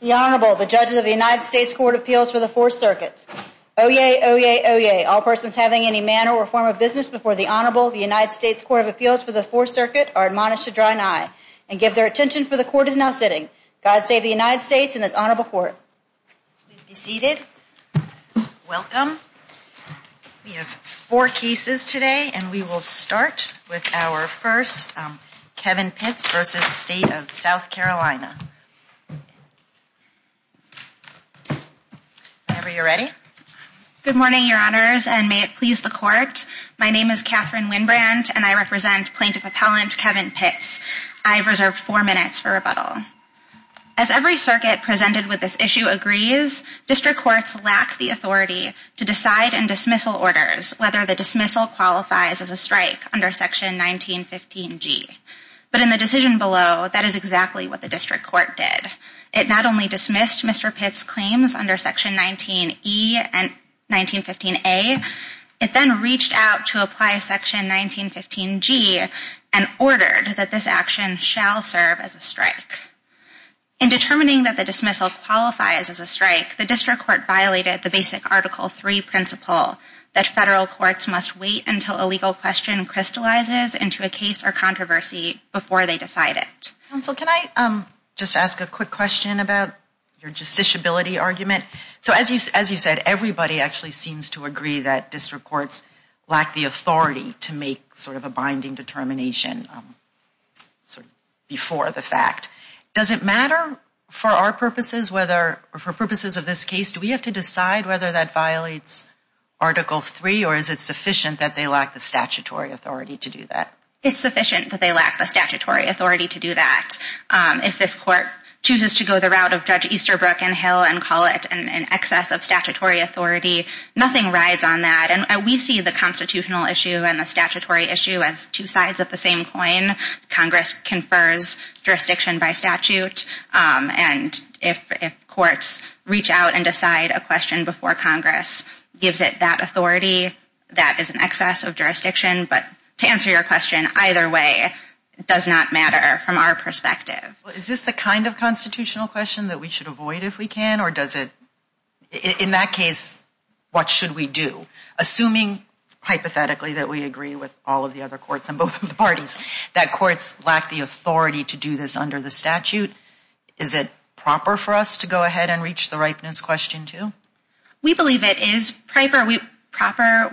The Honorable, the Judges of the United States Court of Appeals for the Fourth Circuit. Oyez, oyez, oyez, all persons having any manner or form of business before the Honorable, the United States Court of Appeals for the Fourth Circuit, are admonished to draw an eye, and give their attention, for the Court is now sitting. God save the United States and this Honorable Court. Please be seated. Welcome. We have four cases today, and we will start with our first, Kevin Pitts v. State of South Carolina. Whenever you're ready. Good morning, Your Honors, and may it please the Court. My name is Katherine Winbrandt, and I represent Plaintiff Appellant Kevin Pitts. I have reserved four minutes for rebuttal. As every circuit presented with this issue agrees, district courts lack the authority to decide in dismissal orders whether the dismissal qualifies as a strike under Section 1915G. But in the decision below, that is exactly what the district court did. It not only dismissed Mr. Pitts' claims under Section 19E and 1915A, it then reached out to apply Section 1915G and ordered that this action shall serve as a strike. In determining that the dismissal qualifies as a strike, the district court violated the basic Article III principle that federal courts must wait until a legal question crystallizes into a case or controversy before they decide it. Counsel, can I just ask a quick question about your justiciability argument? So as you said, everybody actually seems to agree that district courts lack the authority to make sort of a binding determination before the fact. Does it matter for our purposes whether, or for purposes of this case, do we have to decide whether that violates Article III, or is it sufficient that they lack the statutory authority to do that? It's sufficient that they lack the statutory authority to do that. If this court chooses to go the route of Judge Easterbrook and Hill and call it an excess of statutory authority, nothing rides on that. And we see the constitutional issue and the statutory issue as two sides of the same coin. Congress confers jurisdiction by statute, and if courts reach out and decide a question before Congress gives it that authority, that is an excess of jurisdiction. But to answer your question, either way, it does not matter from our perspective. Is this the kind of constitutional question that we should avoid if we can, or does it, in that case, what should we do? Assuming, hypothetically, that we agree with all of the other courts on both of the parties, that courts lack the authority to do this under the statute, is it proper for us to go ahead and reach the ripeness question too? We believe it is proper.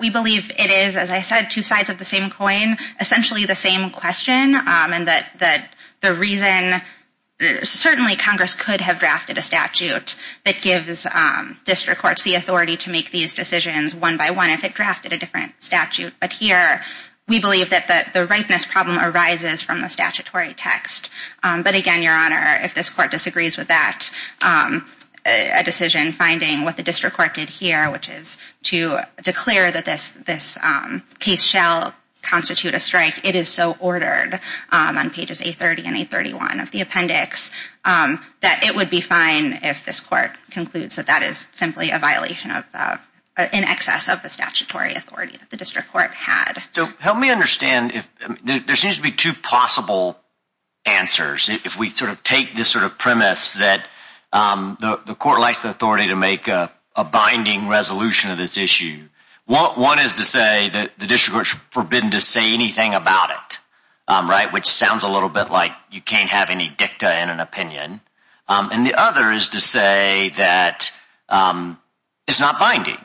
We believe it is, as I said, two sides of the same coin, essentially the same question, and that the reason, certainly Congress could have drafted a statute that gives district courts the authority to make these decisions one by one if it drafted a different statute. But here, we believe that the ripeness problem arises from the statutory text. But again, Your Honor, if this court disagrees with that, a decision finding what the district court did here, which is to declare that this case shall constitute a strike, it is so ordered on pages A30 and A31 of the appendix, that it would be fine if this court concludes that that is simply a violation in excess of the statutory authority that the district court has. So help me understand, there seems to be two possible answers if we take this premise that the court lacks the authority to make a binding resolution of this issue. One is to say that the district court is forbidden to say anything about it, which sounds a little bit like you can't have any dicta in an opinion. And the other is to say that it's not binding,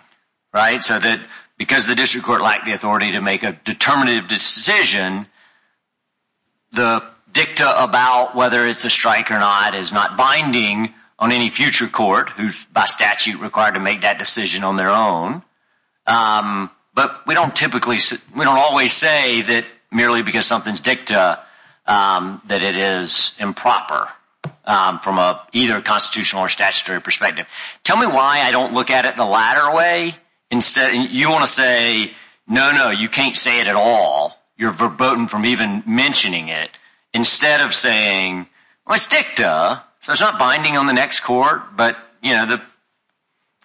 right? So that because the district court lacked the authority to make a determinative decision, the dicta about whether it's a strike or not is not binding on any future court who's by statute required to make that decision on their own. But we don't typically, we don't always say that merely because something's dicta that it is improper from either a constitutional or statutory perspective. Tell me why I don't look at it the latter way? You want to say, no, no, you can't say it at all. You're verboten from even mentioning it. Instead of saying, well, it's dicta, so it's not binding on the next court. But, you know, the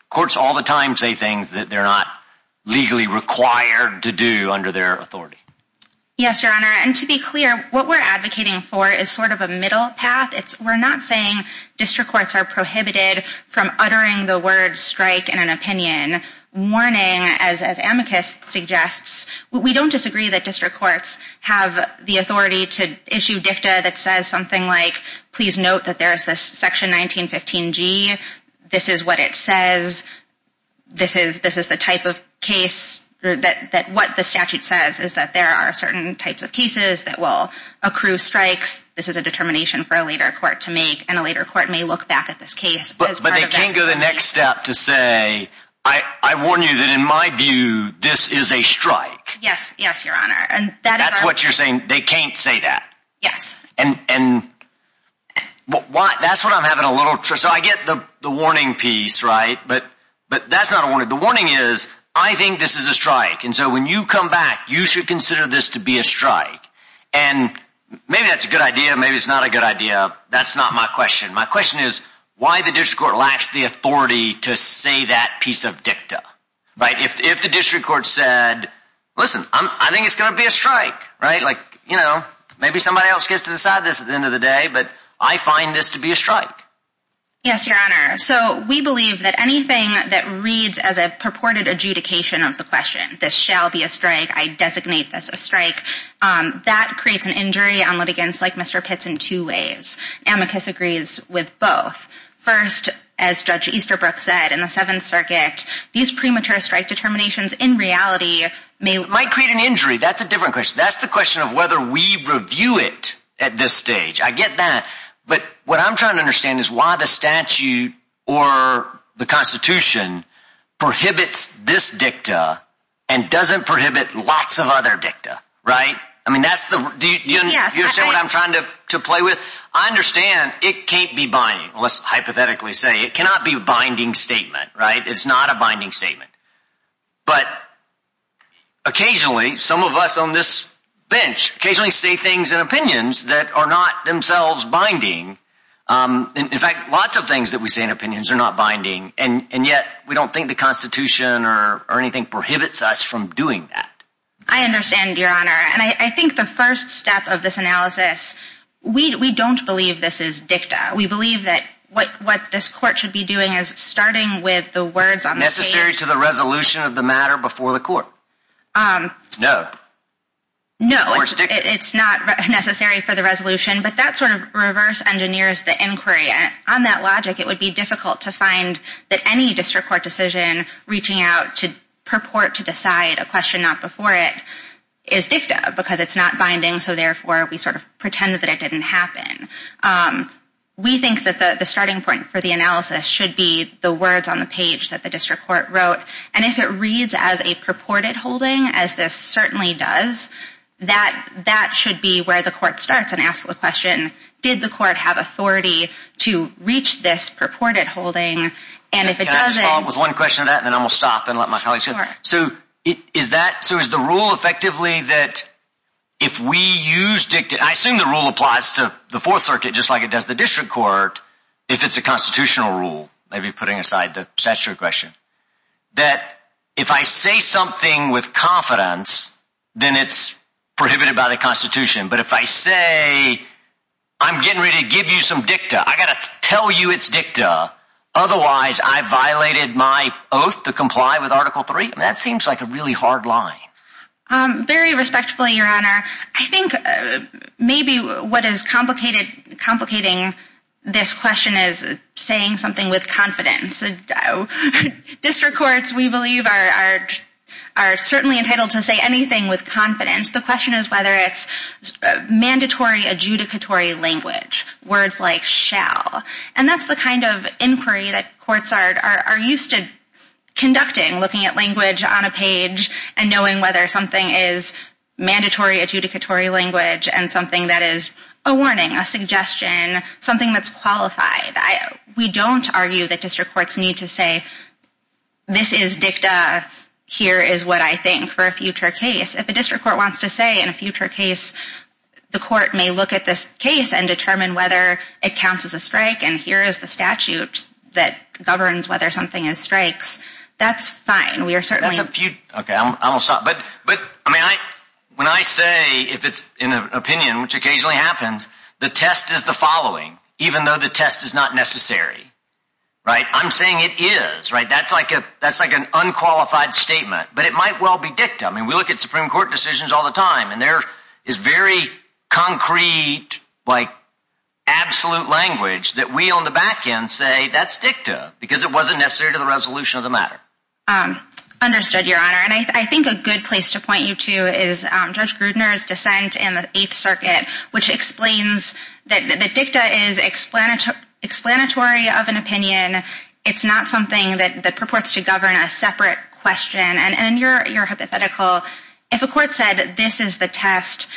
courts all the time say things that they're not legally required to do under their authority. Yes, Your Honor. And to be clear, what we're advocating for is sort of a middle path. We're not saying district courts are prohibited from uttering the word strike in an opinion. We don't disagree that district courts have the authority to issue dicta that says something like, please note that there is this section 1915G. This is what it says. This is the type of case that what the statute says is that there are certain types of cases that will accrue strikes. This is a determination for a later court to make, and a later court may look back at this case. But they can't go the next step to say, I warn you that in my view, this is a strike. Yes, yes, Your Honor. That's what you're saying? They can't say that? Yes. And that's what I'm having a little trouble with. So I get the warning piece, right? But that's not a warning. The warning is, I think this is a strike. And so when you come back, you should consider this to be a strike. And maybe that's a good idea. Maybe it's not a good idea. That's not my question. My question is, why the district court lacks the authority to say that piece of dicta, right? If the district court said, listen, I think it's going to be a strike, right? Like, you know, maybe somebody else gets to decide this at the end of the day. But I find this to be a strike. Yes, Your Honor. So we believe that anything that reads as a purported adjudication of the question, this shall be a strike, I designate this a strike, that creates an injury on litigants like Mr. Pitts in two ways. Amicus agrees with both. First, as Judge Easterbrook said in the Seventh Circuit, these premature strike determinations in reality may— That's a different question. That's the question of whether we review it at this stage. I get that. But what I'm trying to understand is why the statute or the Constitution prohibits this dicta and doesn't prohibit lots of other dicta, right? I mean, that's the—do you understand what I'm trying to play with? I understand it can't be binding. Let's hypothetically say it cannot be a binding statement, right? It's not a binding statement. But occasionally, some of us on this bench occasionally say things in opinions that are not themselves binding. In fact, lots of things that we say in opinions are not binding, and yet we don't think the Constitution or anything prohibits us from doing that. I understand, Your Honor. And I think the first step of this analysis, we don't believe this is dicta. We believe that what this court should be doing is starting with the words on the page— Necessary to the resolution of the matter before the court. No. Or it's dicta. It's not necessary for the resolution, but that sort of reverse-engineers the inquiry. On that logic, it would be difficult to find that any district court decision reaching out to purport to decide a question not before it is dicta because it's not binding, so therefore we sort of pretend that it didn't happen. We think that the starting point for the analysis should be the words on the page that the district court wrote, and if it reads as a purported holding, as this certainly does, that should be where the court starts and asks the question, did the court have authority to reach this purported holding? Can I just follow up with one question on that, and then I will stop and let my colleagues answer? Sure. So is the rule effectively that if we use dicta—I assume the rule applies to the Fourth Circuit just like it does the district court if it's a constitutional rule, maybe putting aside the statutory question—that if I say something with confidence, then it's prohibited by the Constitution. But if I say, I'm getting ready to give you some dicta, I've got to tell you it's dicta, otherwise I violated my oath to comply with Article III, that seems like a really hard line. Very respectfully, Your Honor, I think maybe what is complicating this question is saying something with confidence. District courts, we believe, are certainly entitled to say anything with confidence. The question is whether it's mandatory adjudicatory language, words like shall. And that's the kind of inquiry that courts are used to conducting, looking at language on a page and knowing whether something is mandatory adjudicatory language and something that is a warning, a suggestion, something that's qualified. We don't argue that district courts need to say, this is dicta, here is what I think for a future case. If a district court wants to say in a future case the court may look at this case and determine whether it counts as a strike and here is the statute that governs whether something is strikes, that's fine. When I say if it's an opinion, which occasionally happens, the test is the following, even though the test is not necessary. I'm saying it is, that's like an unqualified statement, but it might well be dicta. We look at Supreme Court decisions all the time and there is very concrete, absolute language that we on the back end say that's dicta because it wasn't necessary to the resolution of the matter. Understood, Your Honor. And I think a good place to point you to is Judge Grudner's dissent in the Eighth Circuit, which explains that the dicta is explanatory of an opinion. It's not something that purports to govern a separate question. And your hypothetical, if a court said this is the test,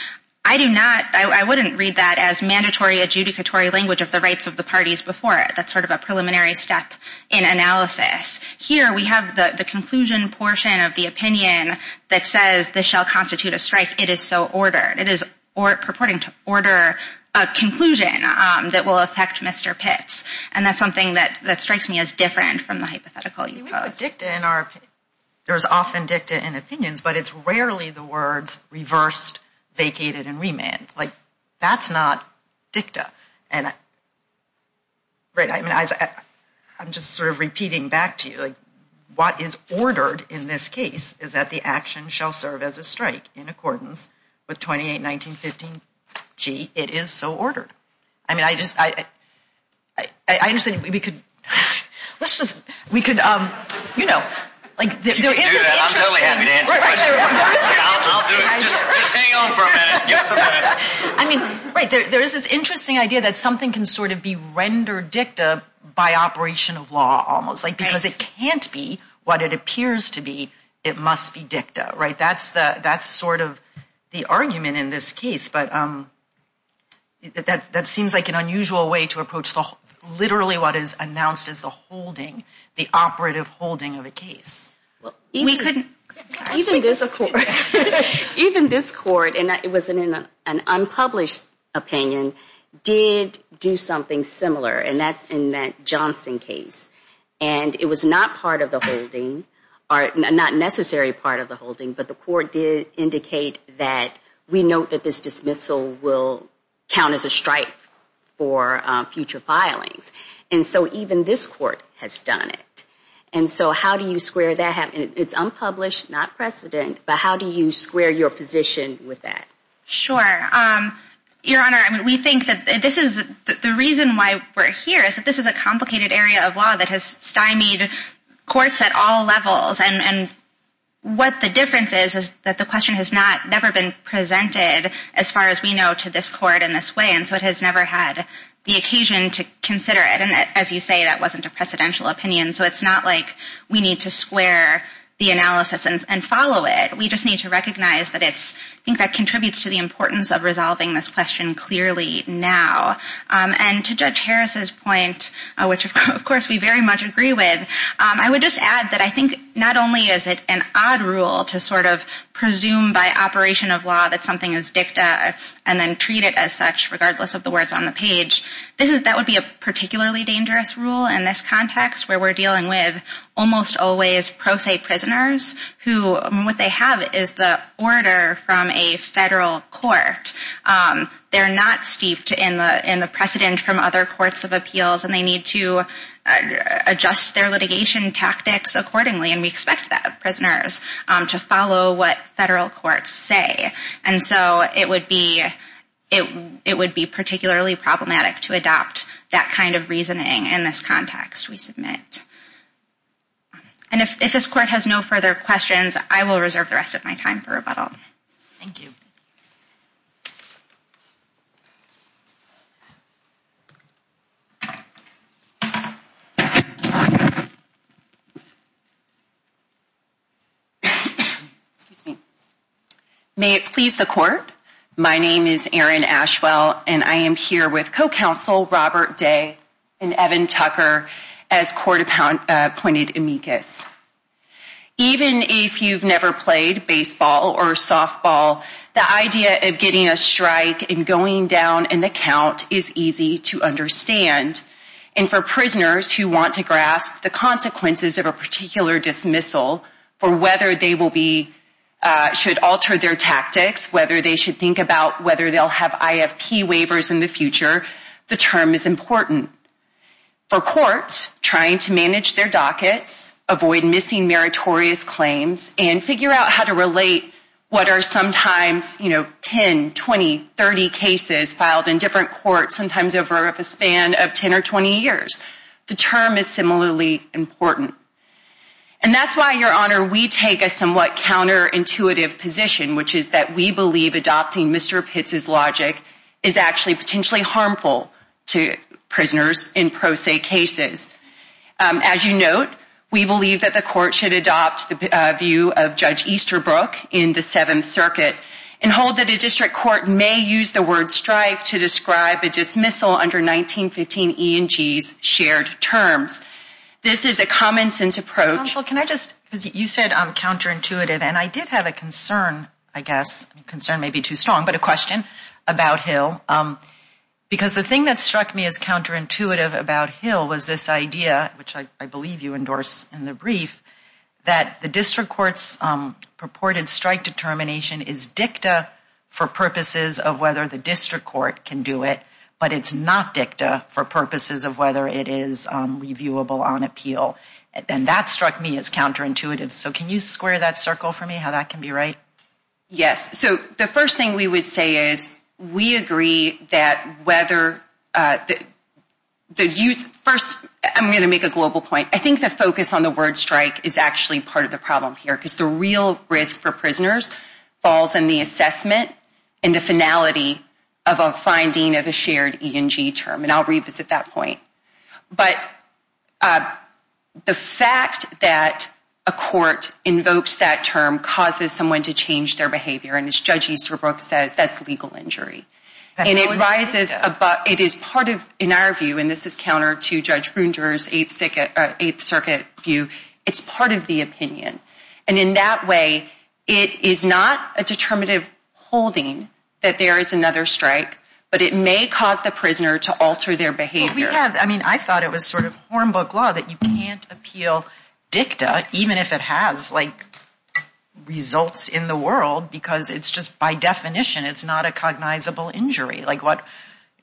I do not, I wouldn't read that as mandatory adjudicatory language of the rights of the parties before it. That's sort of a preliminary step in analysis. Here we have the conclusion portion of the opinion that says this shall constitute a strike. It is so ordered. It is purporting to order a conclusion that will affect Mr. Pitts. And that's something that strikes me as different from the hypothetical you posed. We put dicta in our opinion. There is often dicta in opinions, but it's rarely the words reversed, vacated, and remanded. That's not dicta. Right, I'm just sort of repeating back to you. What is ordered in this case is that the action shall serve as a strike in accordance with 28-1915G. It is so ordered. I mean, I just, I understand we could, let's just, we could, you know, like there is this interesting. I'm totally happy to answer your question. I mean, right, there is this interesting idea that something can sort of be rendered dicta by operation of law almost. Like because it can't be what it appears to be, it must be dicta, right? That's the, that's sort of the argument in this case. But that seems like an unusual way to approach literally what is announced as the holding, the operative holding of a case. Even this court, and it was in an unpublished opinion, did do something similar, and that's in that Johnson case. And it was not part of the holding, not a necessary part of the holding, but the court did indicate that we note that this dismissal will count as a strike for future filings. And so even this court has done it. And so how do you square that? It's unpublished, not precedent, but how do you square your position with that? Sure. Your Honor, I mean, we think that this is, the reason why we're here is that this is a complicated area of law that has stymied courts at all levels. And what the difference is is that the question has not, never been presented as far as we know to this court in this way. And so it has never had the occasion to consider it. And as you say, that wasn't a precedential opinion. So it's not like we need to square the analysis and follow it. We just need to recognize that it's, I think that contributes to the importance of resolving this question clearly now. And to Judge Harris's point, which of course we very much agree with, I would just add that I think not only is it an odd rule to sort of presume by operation of law that something is dicta and then treat it as such, regardless of the words on the page. This is, that would be a particularly dangerous rule in this context where we're dealing with almost always pro se prisoners who, what they have is the order from a federal court. They're not steeped in the precedent from other courts of appeals and they need to adjust their litigation tactics accordingly. And we expect that of prisoners to follow what federal courts say. And so it would be particularly problematic to adopt that kind of reasoning in this context, we submit. And if this court has no further questions, I will reserve the rest of my time for rebuttal. Thank you. Even if you've never played baseball or softball, the idea of getting a strike and going down in the count is easy to understand. And for prisoners who want to grasp the consequences of a particular dismissal for whether they will be, should alter their tactics, whether they should think about whether they'll have IFP waivers in the future, the term is important. For courts trying to manage their dockets, avoid missing meritorious claims and figure out how to relate what are sometimes, you know, 10, 20, 30 cases filed in different courts, sometimes over a span of 10 or 20 years. The term is similarly important. And that's why, Your Honor, we take a somewhat counterintuitive position, which is that we believe adopting Mr. Pitts' logic is actually potentially harmful to prisoners in pro se cases. As you note, we believe that the court should adopt the view of Judge Easterbrook in the Seventh Circuit and hold that a district court may use the word strike to describe a dismissal under 1915 E&G's shared terms. This is a common sense approach. Counsel, can I just, because you said counterintuitive, and I did have a concern, I guess, concern may be too strong, but a question about Hill. Because the thing that struck me as counterintuitive about Hill was this idea, which I believe you endorsed in the brief, that the district court's purported strike determination is dicta for purposes of whether the district court can do it, but it's not dicta for purposes of whether it is reviewable on appeal. And that struck me as counterintuitive. So can you square that circle for me, how that can be right? Yes. So the first thing we would say is we agree that whether the use, first, I'm going to make a global point. I think the focus on the word strike is actually part of the problem here, because the real risk for prisoners falls in the assessment and the finality of a finding of a shared E&G term, and I'll revisit that point. But the fact that a court invokes that term causes someone to change their behavior, and as Judge Easterbrook says, that's legal injury. And it rises above, it is part of, in our view, and this is counter to Judge Grunder's Eighth Circuit view, it's part of the opinion. And in that way, it is not a determinative holding that there is another strike, but it may cause the prisoner to alter their behavior. I thought it was sort of hornbook law that you can't appeal dicta, even if it has results in the world, because it's just by definition, it's not a cognizable injury.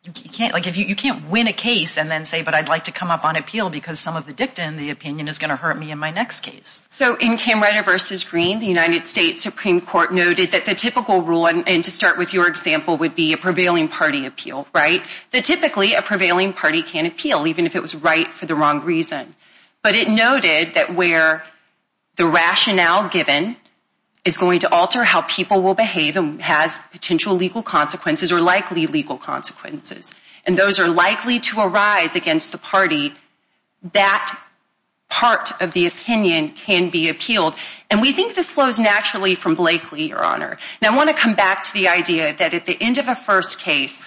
You can't win a case and then say, but I'd like to come up on appeal because some of the dicta in the opinion is going to hurt me in my next case. So in Camerota v. Green, the United States Supreme Court noted that the typical rule, and to start with your example, would be a prevailing party appeal, right? That typically, a prevailing party can appeal, even if it was right for the wrong reason. But it noted that where the rationale given is going to alter how people will behave and has potential legal consequences or likely legal consequences, and those are likely to arise against the party, that part of the opinion can be appealed. And we think this flows naturally from Blakely, Your Honor. Now, I want to come back to the idea that at the end of a first case,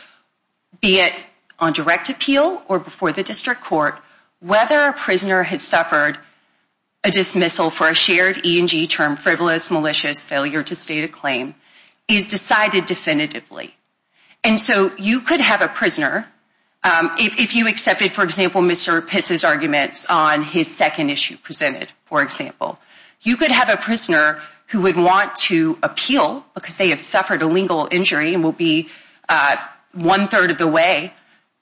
be it on direct appeal or before the district court, whether a prisoner has suffered a dismissal for a shared E&G term, frivolous, malicious, failure to state a claim, is decided definitively. And so you could have a prisoner, if you accepted, for example, Mr. Pitts' arguments on his second issue presented, for example, you could have a prisoner who would want to appeal because they have suffered a legal injury and will be one-third of the way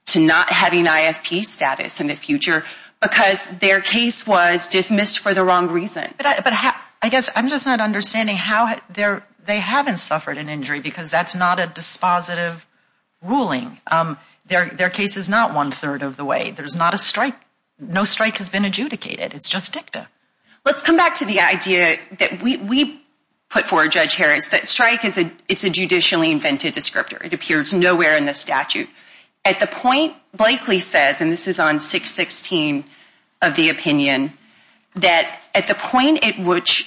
to not having IFP status in the future because their case was dismissed for the wrong reason. But I guess I'm just not understanding how they haven't suffered an injury because that's not a dispositive ruling. Their case is not one-third of the way. There's not a strike. No strike has been adjudicated. It's just dicta. Let's come back to the idea that we put forward, Judge Harris, that strike is a judicially invented descriptor. It appears nowhere in the statute. At the point Blakely says, and this is on 616 of the opinion, that at the point at which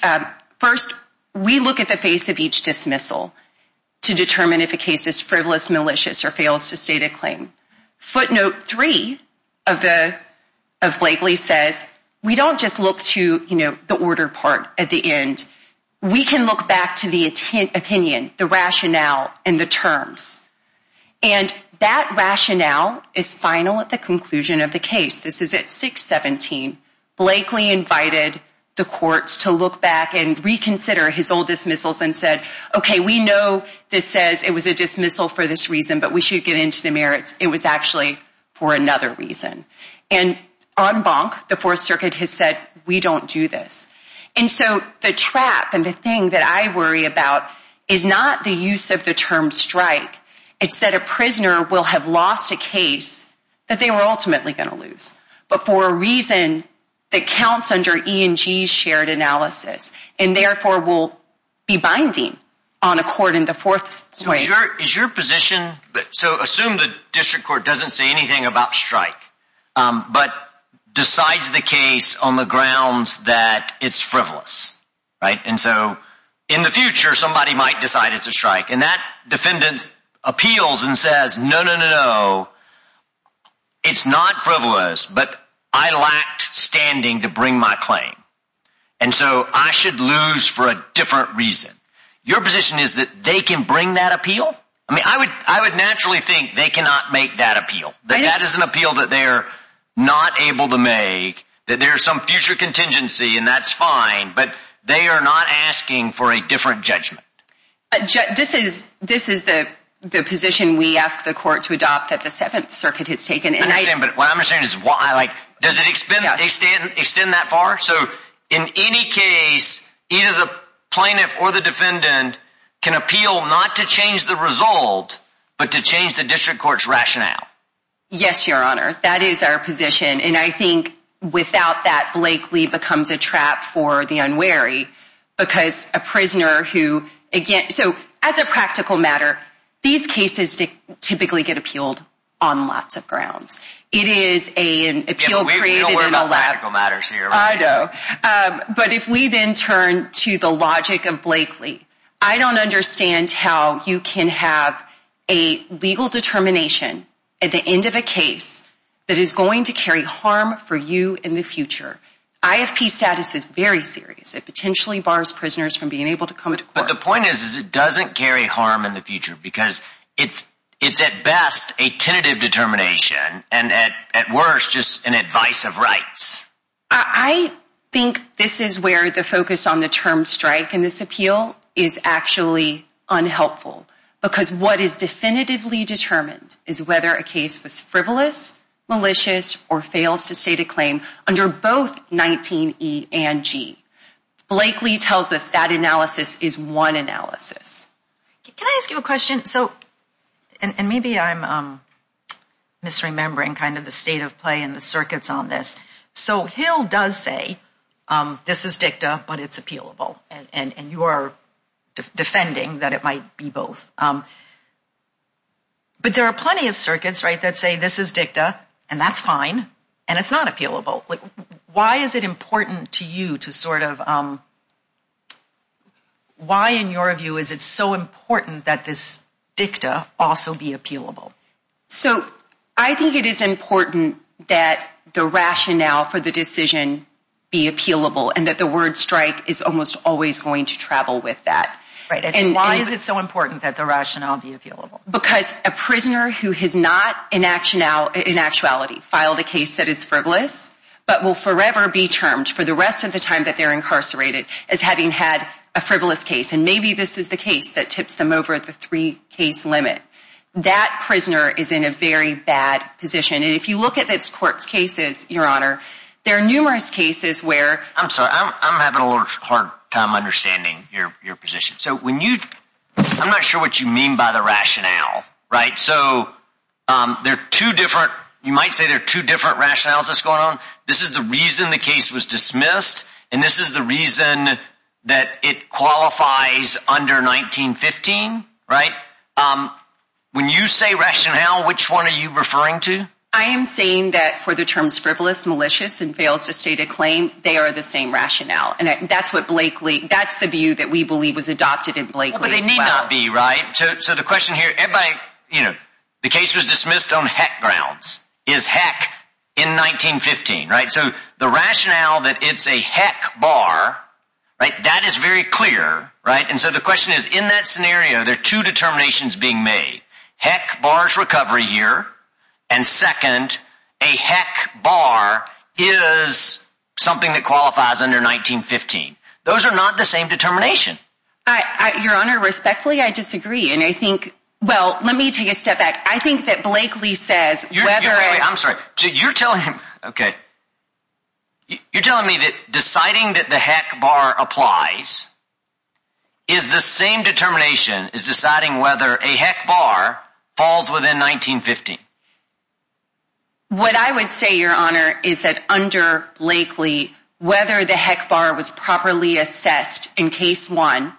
first we look at the face of each dismissal to determine if a case is frivolous, malicious, or fails to state a claim, footnote three of Blakely says, we don't just look to the order part at the end. We can look back to the opinion, the rationale, and the terms. And that rationale is final at the conclusion of the case. This is at 617. Blakely invited the courts to look back and reconsider his old dismissals and said, okay, we know this says it was a dismissal for this reason, but we should get into the merits. It was actually for another reason. And en banc, the Fourth Circuit has said, we don't do this. And so the trap and the thing that I worry about is not the use of the term strike. It's that a prisoner will have lost a case that they were ultimately going to lose. But for a reason that counts under E&G's shared analysis, and therefore will be binding on a court in the Fourth Circuit. Is your position, so assume the district court doesn't say anything about strike, but decides the case on the grounds that it's frivolous, right? And so in the future, somebody might decide it's a strike. And that defendant appeals and says, no, no, no, no. It's not frivolous, but I lacked standing to bring my claim. And so I should lose for a different reason. Your position is that they can bring that appeal. I mean, I would I would naturally think they cannot make that appeal. That is an appeal that they're not able to make, that there's some future contingency, and that's fine. But they are not asking for a different judgment. This is this is the position we ask the court to adopt that the Seventh Circuit has taken. And I understand. But what I'm saying is, why? Like, does it extend that far? So in any case, either the plaintiff or the defendant can appeal not to change the result, but to change the district court's rationale. Yes, your honor. That is our position. And I think without that, Blakely becomes a trap for the unwary because a prisoner who again. So as a practical matter, these cases typically get appealed on lots of grounds. It is a an appeal created in a lack of matters here. I know. But if we then turn to the logic of Blakely, I don't understand how you can have a legal determination at the end of a case that is going to carry harm for you in the future. IFP status is very serious. It potentially bars prisoners from being able to come to court. But the point is, is it doesn't carry harm in the future because it's it's at best a tentative determination and at worst just an advice of rights. I think this is where the focus on the term strike in this appeal is actually unhelpful. Because what is definitively determined is whether a case was frivolous, malicious or fails to state a claim under both 19 E and G. Blakely tells us that analysis is one analysis. Can I ask you a question? So and maybe I'm misremembering kind of the state of play and the circuits on this. So Hill does say this is dicta, but it's appealable. And you are defending that it might be both. But there are plenty of circuits, right, that say this is dicta and that's fine and it's not appealable. Why is it important to you to sort of. Why, in your view, is it so important that this dicta also be appealable? So I think it is important that the rationale for the decision be appealable and that the word strike is almost always going to travel with that. And why is it so important that the rationale be appealable? Because a prisoner who has not in action now in actuality filed a case that is frivolous, but will forever be termed for the rest of the time that they're incarcerated as having had a frivolous case. And maybe this is the case that tips them over at the three case limit. That prisoner is in a very bad position. And if you look at this court's cases, your honor, there are numerous cases where I'm sorry, I'm having a hard time understanding your position. So when you I'm not sure what you mean by the rationale. Right. So there are two different you might say there are two different rationales that's going on. This is the reason the case was dismissed. And this is the reason that it qualifies under 1915. Right. When you say rationale, which one are you referring to? I am saying that for the terms frivolous, malicious and fails to state a claim, they are the same rationale. And that's what Blakely that's the view that we believe was adopted in Blakely. But they need not be right. So the question here, everybody, you know, the case was dismissed on heck grounds is heck in 1915. Right. So the rationale that it's a heck bar. Right. That is very clear. Right. And so the question is, in that scenario, there are two determinations being made. Heck bars recovery here. And second, a heck bar is something that qualifies under 1915. Those are not the same determination. Your Honor, respectfully, I disagree. And I think. Well, let me take a step back. I think that Blakely says you're right. I'm sorry. So you're telling him, OK. You're telling me that deciding that the heck bar applies. Is the same determination is deciding whether a heck bar falls within 1915. What I would say, Your Honor, is that under Blakely, whether the heck bar was properly assessed in case one.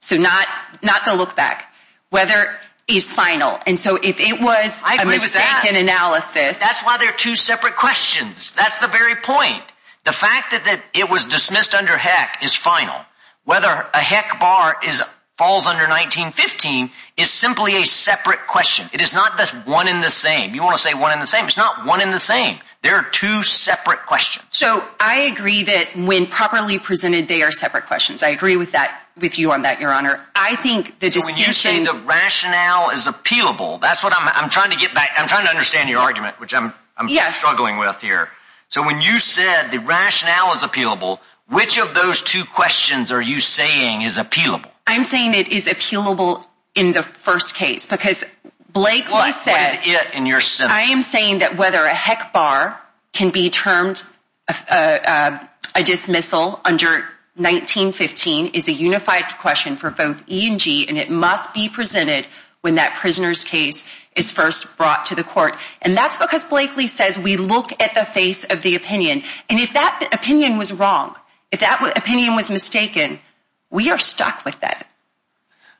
So not not the look back, whether he's final. And so if it was a mistake in analysis, that's why they're two separate questions. That's the very point. The fact that it was dismissed under heck is final. Whether a heck bar is falls under 1915 is simply a separate question. It is not just one in the same. You want to say one in the same. It's not one in the same. There are two separate questions. So I agree that when properly presented, they are separate questions. I agree with that, with you on that, Your Honor. I think the discussion, the rationale is appealable. That's what I'm I'm trying to get back. I'm trying to understand your argument, which I'm I'm struggling with here. So when you said the rationale is appealable, which of those two questions are you saying is appealable? I'm saying it is appealable in the first case because Blakely says it. I am saying that whether a heck bar can be termed a dismissal under 1915 is a unified question for both E and G. And it must be presented when that prisoner's case is first brought to the court. And that's because Blakely says we look at the face of the opinion. And if that opinion was wrong, if that opinion was mistaken, we are stuck with that.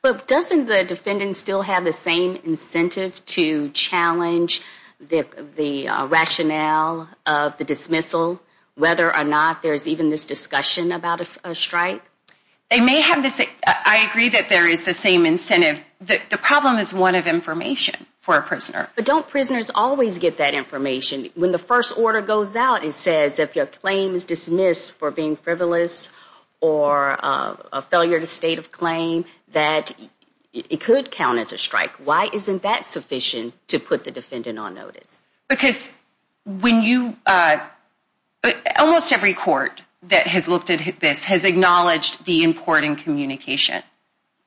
But doesn't the defendant still have the same incentive to challenge the rationale of the dismissal, whether or not there's even this discussion about a strike? They may have this. I agree that there is the same incentive. The problem is one of information for a prisoner. But don't prisoners always get that information? When the first order goes out, it says if your claim is dismissed for being frivolous or a failure to state of claim, that it could count as a strike. Why isn't that sufficient to put the defendant on notice? Because when you almost every court that has looked at this has acknowledged the important communication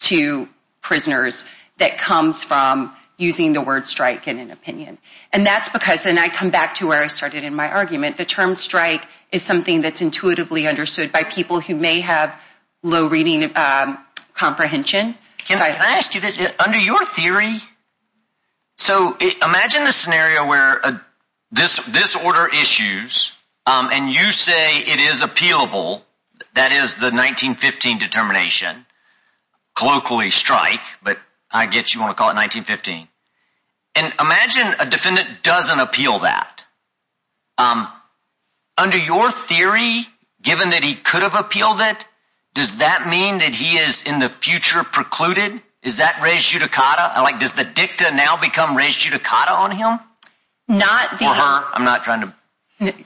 to prisoners that comes from using the word strike in an opinion. And that's because, and I come back to where I started in my argument, the term strike is something that's intuitively understood by people who may have low reading comprehension. Can I ask you this? Under your theory, so imagine a scenario where this order issues and you say it is appealable, that is the 1915 determination, colloquially strike, but I get you want to call it 1915. And imagine a defendant doesn't appeal that. Under your theory, given that he could have appealed it, does that mean that he is in the future precluded? Is that res judicata? Does the dicta now become res judicata on him?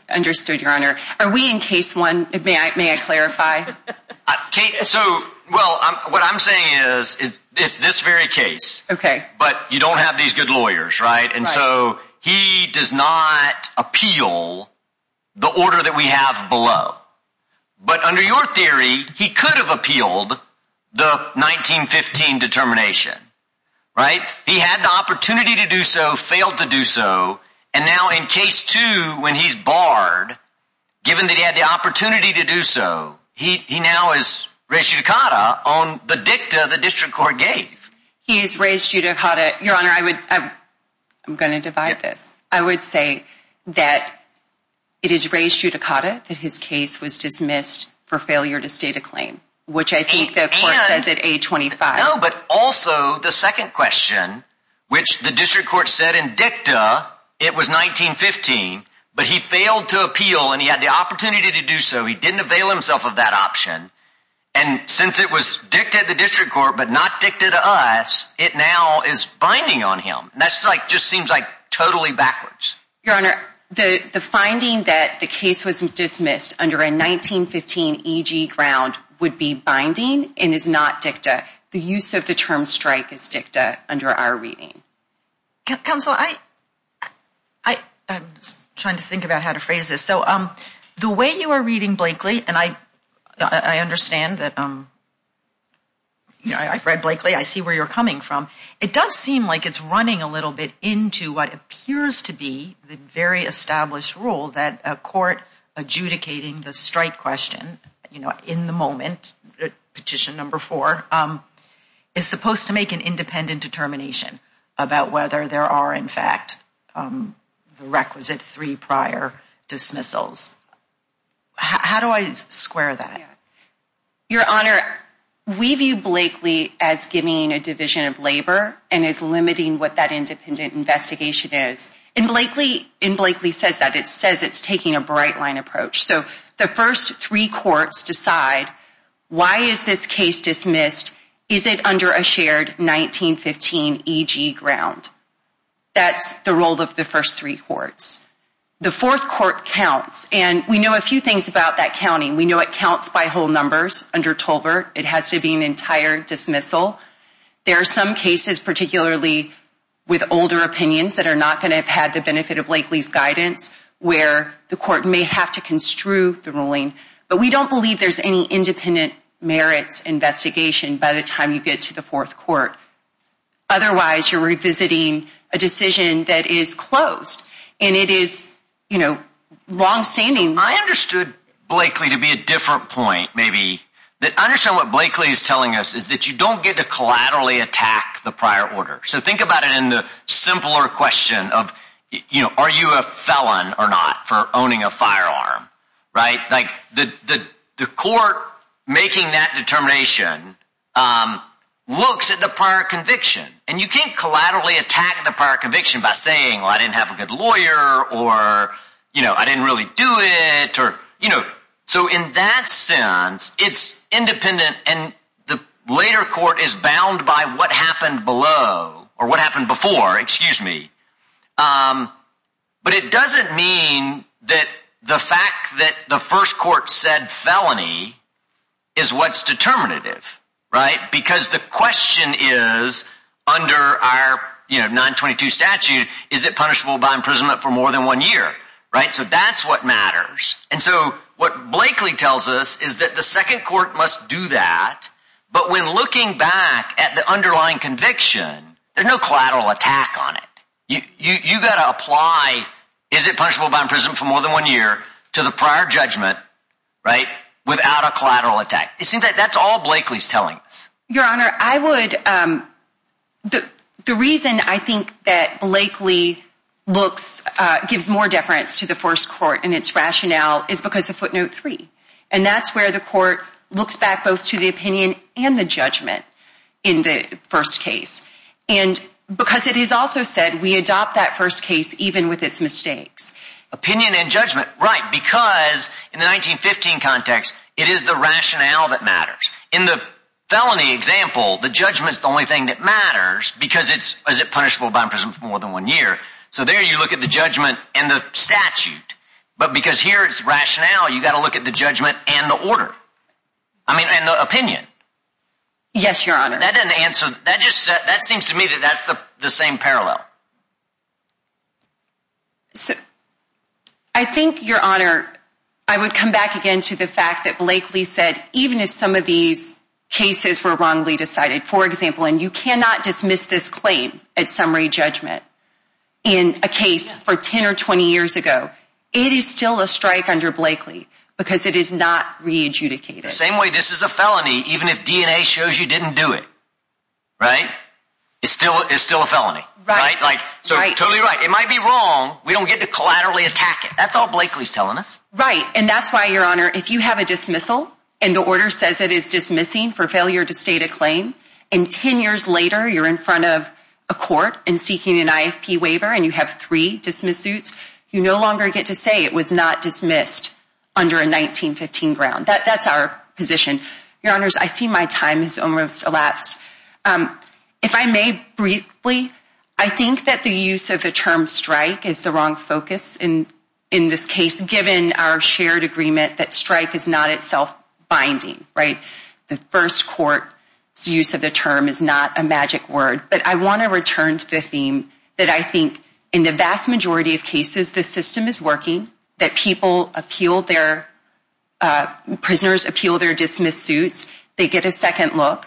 Understood, Your Honor. Are we in case one? May I clarify? Well, what I'm saying is this very case. Okay. But you don't have these good lawyers, right? And so he does not appeal the order that we have below. But under your theory, he could have appealed the 1915 determination, right? He had the opportunity to do so, failed to do so. And now in case two, when he's barred, given that he had the opportunity to do so, he now is res judicata on the dicta the district court gave. He is res judicata. Your Honor, I'm going to divide this. I would say that it is res judicata that his case was dismissed for failure to state a claim, which I think the court says at age 25. No, but also the second question, which the district court said in dicta it was 1915, but he failed to appeal and he had the opportunity to do so. He didn't avail himself of that option. And since it was dicta the district court, but not dicta to us, it now is binding on him. And that's like, just seems like totally backwards. Your Honor, the finding that the case was dismissed under a 1915 E.G. ground would be binding and is not dicta. The use of the term strike is dicta under our reading. Counsel, I'm trying to think about how to phrase this. So the way you are reading, Blakely, and I understand that I've read Blakely. I see where you're coming from. It does seem like it's running a little bit into what appears to be the very established rule that a court adjudicating the strike question in the moment, petition number four, is supposed to make an independent determination about whether there are in fact the requisite three prior dismissals. How do I square that? Your Honor, we view Blakely as giving a division of labor and is limiting what that independent investigation is. And Blakely says that. It says it's taking a bright line approach. So the first three courts decide, why is this case dismissed? Is it under a shared 1915 E.G. ground? That's the role of the first three courts. The fourth court counts. And we know a few things about that counting. We know it counts by whole numbers under Tolbert. It has to be an entire dismissal. There are some cases, particularly with older opinions, that are not going to have had the benefit of Blakely's guidance where the court may have to construe the ruling. But we don't believe there's any independent merits investigation by the time you get to the fourth court. Otherwise, you're revisiting a decision that is closed. And it is, you know, wrong standing. I understood Blakely to be a different point, maybe. I understand what Blakely is telling us is that you don't get to the question of, you know, are you a felon or not for owning a firearm? Right. Like the court making that determination looks at the prior conviction and you can't collaterally attack the prior conviction by saying, well, I didn't have a good lawyer or, you know, I didn't really do it. You know, so in that sense, it's independent. And the later court is bound by what happened below or what happened before. Excuse me. But it doesn't mean that the fact that the first court said felony is what's determinative. Right. Because the question is under our 922 statute, is it punishable by imprisonment for more than one year? Right. So that's what matters. And so what Blakely tells us is that the second court must do that. But when looking back at the underlying conviction, there's no collateral attack on it. You got to apply. Is it punishable by imprisonment for more than one year to the prior judgment? Right. Without a collateral attack. That's all Blakely's telling us. Your Honor, I would. The reason I think that Blakely looks gives more deference to the first court and its rationale is because of footnote three. And that's where the court looks back both to the opinion and the judgment in the first case. And because it is also said we adopt that first case even with its mistakes. Opinion and judgment. Right. Because in the 1915 context, it is the rationale that matters. In the felony example, the judgment's the only thing that matters because it's punishable by imprisonment for more than one year. So there you look at the judgment and the statute. But because here it's rationale, you got to look at the judgment and the order. I mean, and the opinion. Yes, Your Honor. That doesn't answer that just that seems to me that that's the same parallel. So I think, Your Honor, I would come back again to the fact that Blakely said, even if some of these cases were wrongly decided, for example, and you cannot dismiss this claim at summary judgment in a case for 10 or 20 years ago, it is still a strike under Blakely because it is not re adjudicated. Same way. This is a felony. Even if DNA shows you didn't do it. Right. It's still it's still a felony. Right. Like so totally right. It might be wrong. We don't get to collaterally attack it. That's all Blakely's telling us. Right. And that's why, Your Honor, if you have a dismissal and the order says it is dismissing for failure to state a claim in 10 years later, you're in front of a court and seeking an IFP waiver and you have three dismiss suits, you no longer get to say it was not dismissed under a 1915 ground. That's our position. Your Honor, I see my time has almost elapsed. If I may briefly, I think that the use of the term strike is the wrong focus in this case, given our shared agreement that strike is not itself binding. Right. The first court use of the term is not a magic word. But I want to return to the theme that I think in the vast majority of cases, the system is working, that people appeal their prisoners, appeal their dismiss suits. They get a second look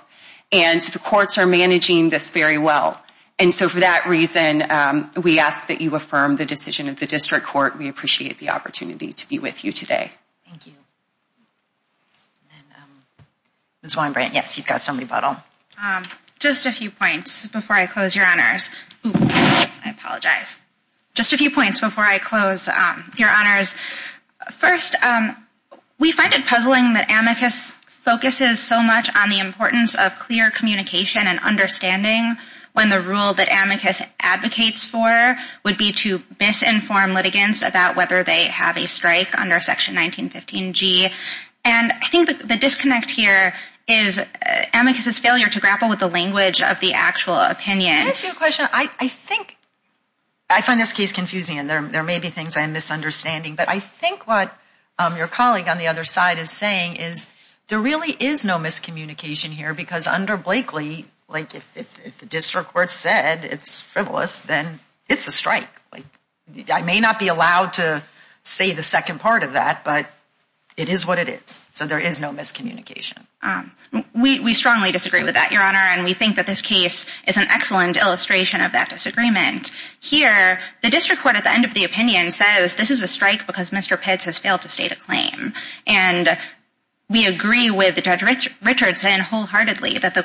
and the courts are managing this very well. And so for that reason, we ask that you affirm the decision of the district court. We appreciate the opportunity to be with you today. Thank you. Ms. Weinbrand, yes, you've got some rebuttal. Just a few points before I close, Your Honors. Just a few points before I close, Your Honors. First, we find it puzzling that amicus focuses so much on the importance of clear communication and understanding when the rule that amicus advocates for would be to misinform litigants about whether they have a strike under Section 1915G. And I think the disconnect here is amicus' failure to grapple with the language of the actual opinion. Can I ask you a question? I think, I find this case confusing and there may be things I am misunderstanding. But I think what your colleague on the other side is saying is there really is no miscommunication here because under Blakely, like if the district court said it's frivolous, then it's a strike. I may not be allowed to say the second part of that, but it is what it is. So there is no miscommunication. We strongly disagree with that, Your Honor. And we think that this case is an excellent illustration of that disagreement. Here, the district court at the end of the opinion says this is a strike because Mr. Pitts has failed to state a claim. And we agree with Judge Richardson wholeheartedly that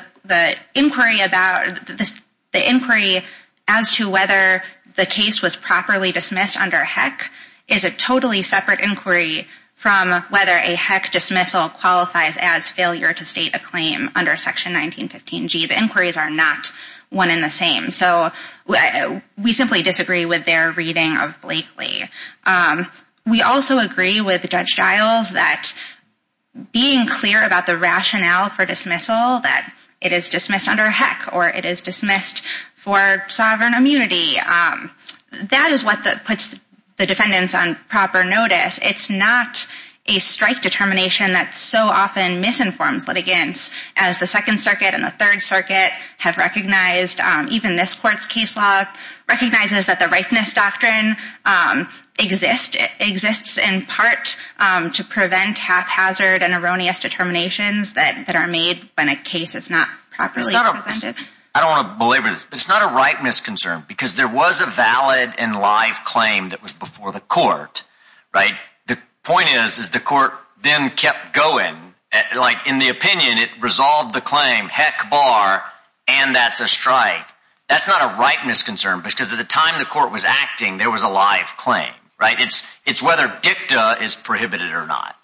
the inquiry as to whether the case was properly dismissed under HEC is a totally separate inquiry from whether a HEC dismissal qualifies as failure to state a claim under Section 1915G. The inquiries are not one and the same. So we simply disagree with their reading of Blakely. We also agree with Judge Giles that being clear about the rationale for dismissal, that it is dismissed under HEC or it is dismissed for sovereign immunity. That is what puts the defendants on proper notice. It's not a strike determination that so often misinforms litigants, as the Second Circuit and the Third Circuit have recognized. Even this court's case law recognizes that the rightness doctrine exists in part to prevent haphazard and erroneous determinations that are made when a case is not properly presented. I don't want to belabor this, but it's not a right misconcern because there was a valid and live claim that was before the court. The point is the court then kept going. In the opinion, it resolved the claim, HEC bar, and that's a strike. That's not a right misconcern because at the time the court was acting, there was a live claim. It's whether dicta is prohibited or not.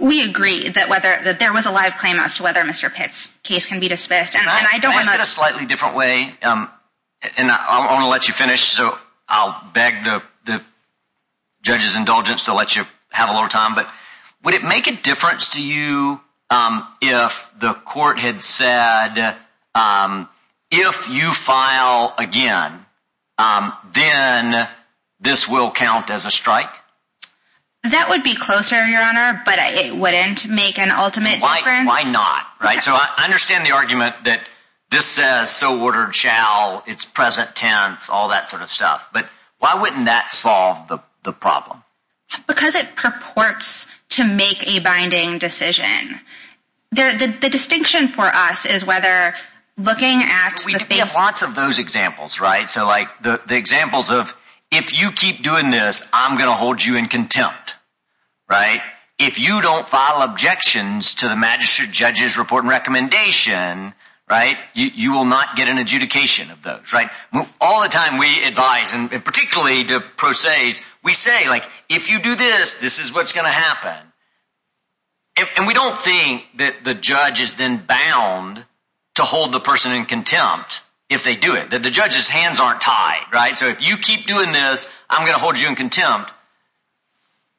We agree that there was a live claim as to whether Mr. Pitt's case can be dismissed. Can I ask this in a slightly different way? I'll beg the judge's indulgence to let you have a little time. Would it make a difference to you if the court had said, if you file again, then this will count as a strike? That would be closer, Your Honor, but it wouldn't make an ultimate difference. Why not? I understand the argument that this says so ordered shall, it's present tense, all that sort of stuff. Why wouldn't that solve the problem? Because it purports to make a binding decision. The distinction for us is whether looking at lots of those examples. Right. So like the examples of if you keep doing this, I'm going to hold you in contempt. Right. If you don't file objections to the magistrate judge's report and recommendation. Right. You will not get an adjudication of those. Right. All the time we advise and particularly to pro se's, we say, like, if you do this, this is what's going to happen. And we don't think that the judge is then bound to hold the person in contempt if they do it, that the judge's hands aren't tied. Right. So if you keep doing this, I'm going to hold you in contempt.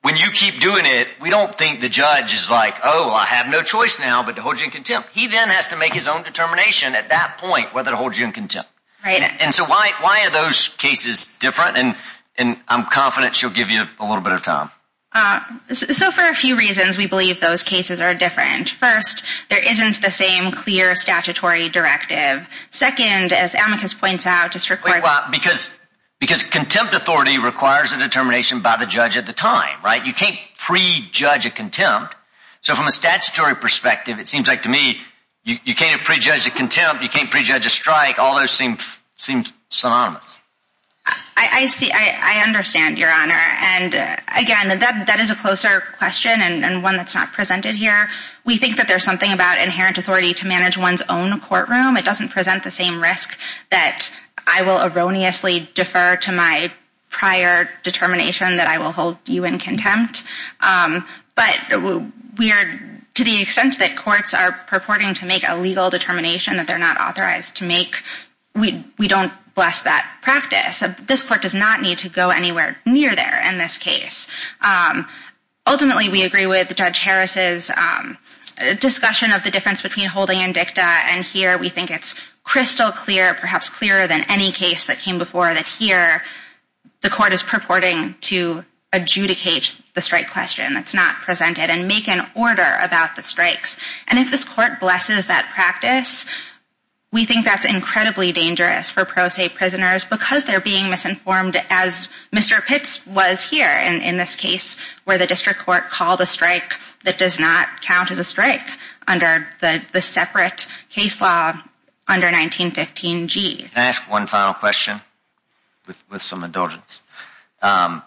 When you keep doing it, we don't think the judge is like, oh, I have no choice now, but to hold you in contempt. He then has to make his own determination at that point whether to hold you in contempt. And so why are those cases different? And I'm confident she'll give you a little bit of time. So for a few reasons, we believe those cases are different. First, there isn't the same clear statutory directive. Second, as Amicus points out. Because contempt authority requires a determination by the judge at the time. Right. You can't prejudge a contempt. So from a statutory perspective, it seems like to me you can't prejudge a contempt. You can't prejudge a strike. All those seem synonymous. I see. I understand, Your Honor. And again, that is a closer question and one that's not presented here. We think that there's something about inherent authority to manage one's own courtroom. It doesn't present the same risk that I will erroneously defer to my prior determination that I will hold you in contempt. But to the extent that courts are purporting to make a legal determination that they're not authorized to make, we don't bless that practice. This court does not need to go anywhere near there in this case. Ultimately, we agree with Judge Harris's discussion of the difference between holding and dicta. And here we think it's crystal clear, perhaps clearer than any case that came before, that here the court is purporting to adjudicate the strike question that's not presented and make an order about the strikes. And if this court blesses that practice, we think that's incredibly dangerous for pro se prisoners because they're being misinformed, as Mr. Pitts was here in this case, where the district court called a strike that does not count as a strike under the separate case law under 1915G. Can I ask one final question with some indulgence? Can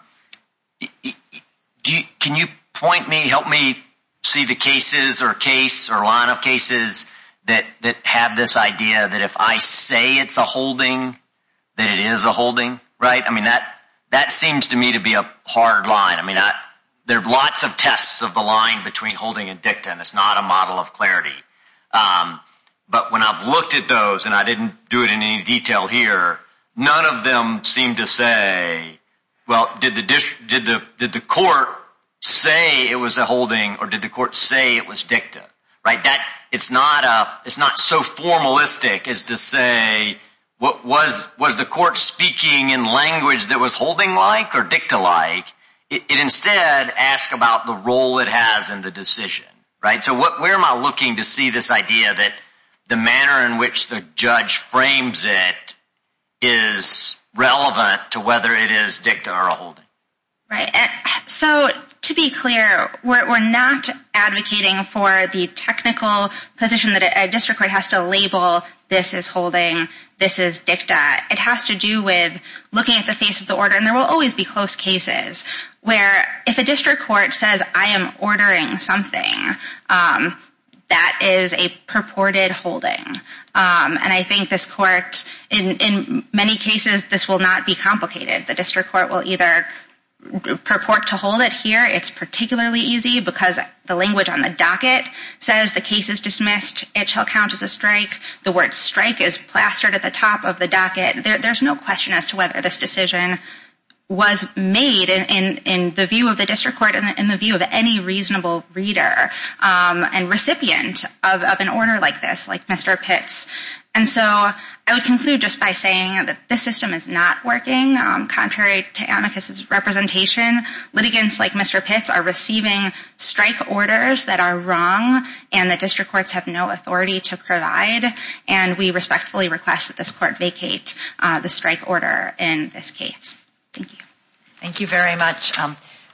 you point me, help me see the cases or case or line of cases that have this idea that if I say it's a holding, that it is a holding, right? I mean, that seems to me to be a hard line. I mean, there are lots of tests of the line between holding and dicta, and it's not a model of clarity. But when I've looked at those, and I didn't do it in any detail here, none of them seem to say, well, did the court say it was a holding or did the court say it was dicta? It's not so formalistic as to say, was the court speaking in language that was holding-like or dicta-like? It instead asks about the role it has in the decision, right? So where am I looking to see this idea that the manner in which the judge frames it is relevant to whether it is dicta or a holding? Right. So to be clear, we're not advocating for the technical position that a district court has to label, this is holding, this is dicta. It has to do with looking at the face of the order, and there will always be close cases where if a district court says, I am ordering something, that is a purported holding. And I think this court, in many cases, this will not be complicated. The district court will either purport to hold it here. It's particularly easy because the language on the docket says the case is dismissed. It shall count as a strike. The word strike is plastered at the top of the docket. There's no question as to whether this decision was made in the view of the district court and in the view of any reasonable reader and recipient of an order like this, like Mr. Pitts. And so I would conclude just by saying that this system is not working. Contrary to amicus's representation, litigants like Mr. Pitts are receiving strike orders that are wrong and that district courts have no authority to provide. And we respectfully request that this court vacate the strike order in this case. Thank you. Thank you very much.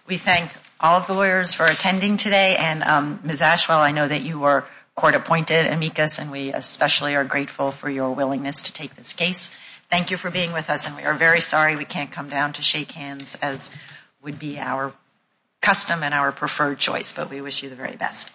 We thank all of the lawyers for attending today. And Ms. Ashwell, I know that you were court appointed amicus, and we especially are grateful for your willingness to take this case. Thank you for being with us, and we are very sorry we can't come down to shake hands as would be our custom and our preferred choice, but we wish you the very best.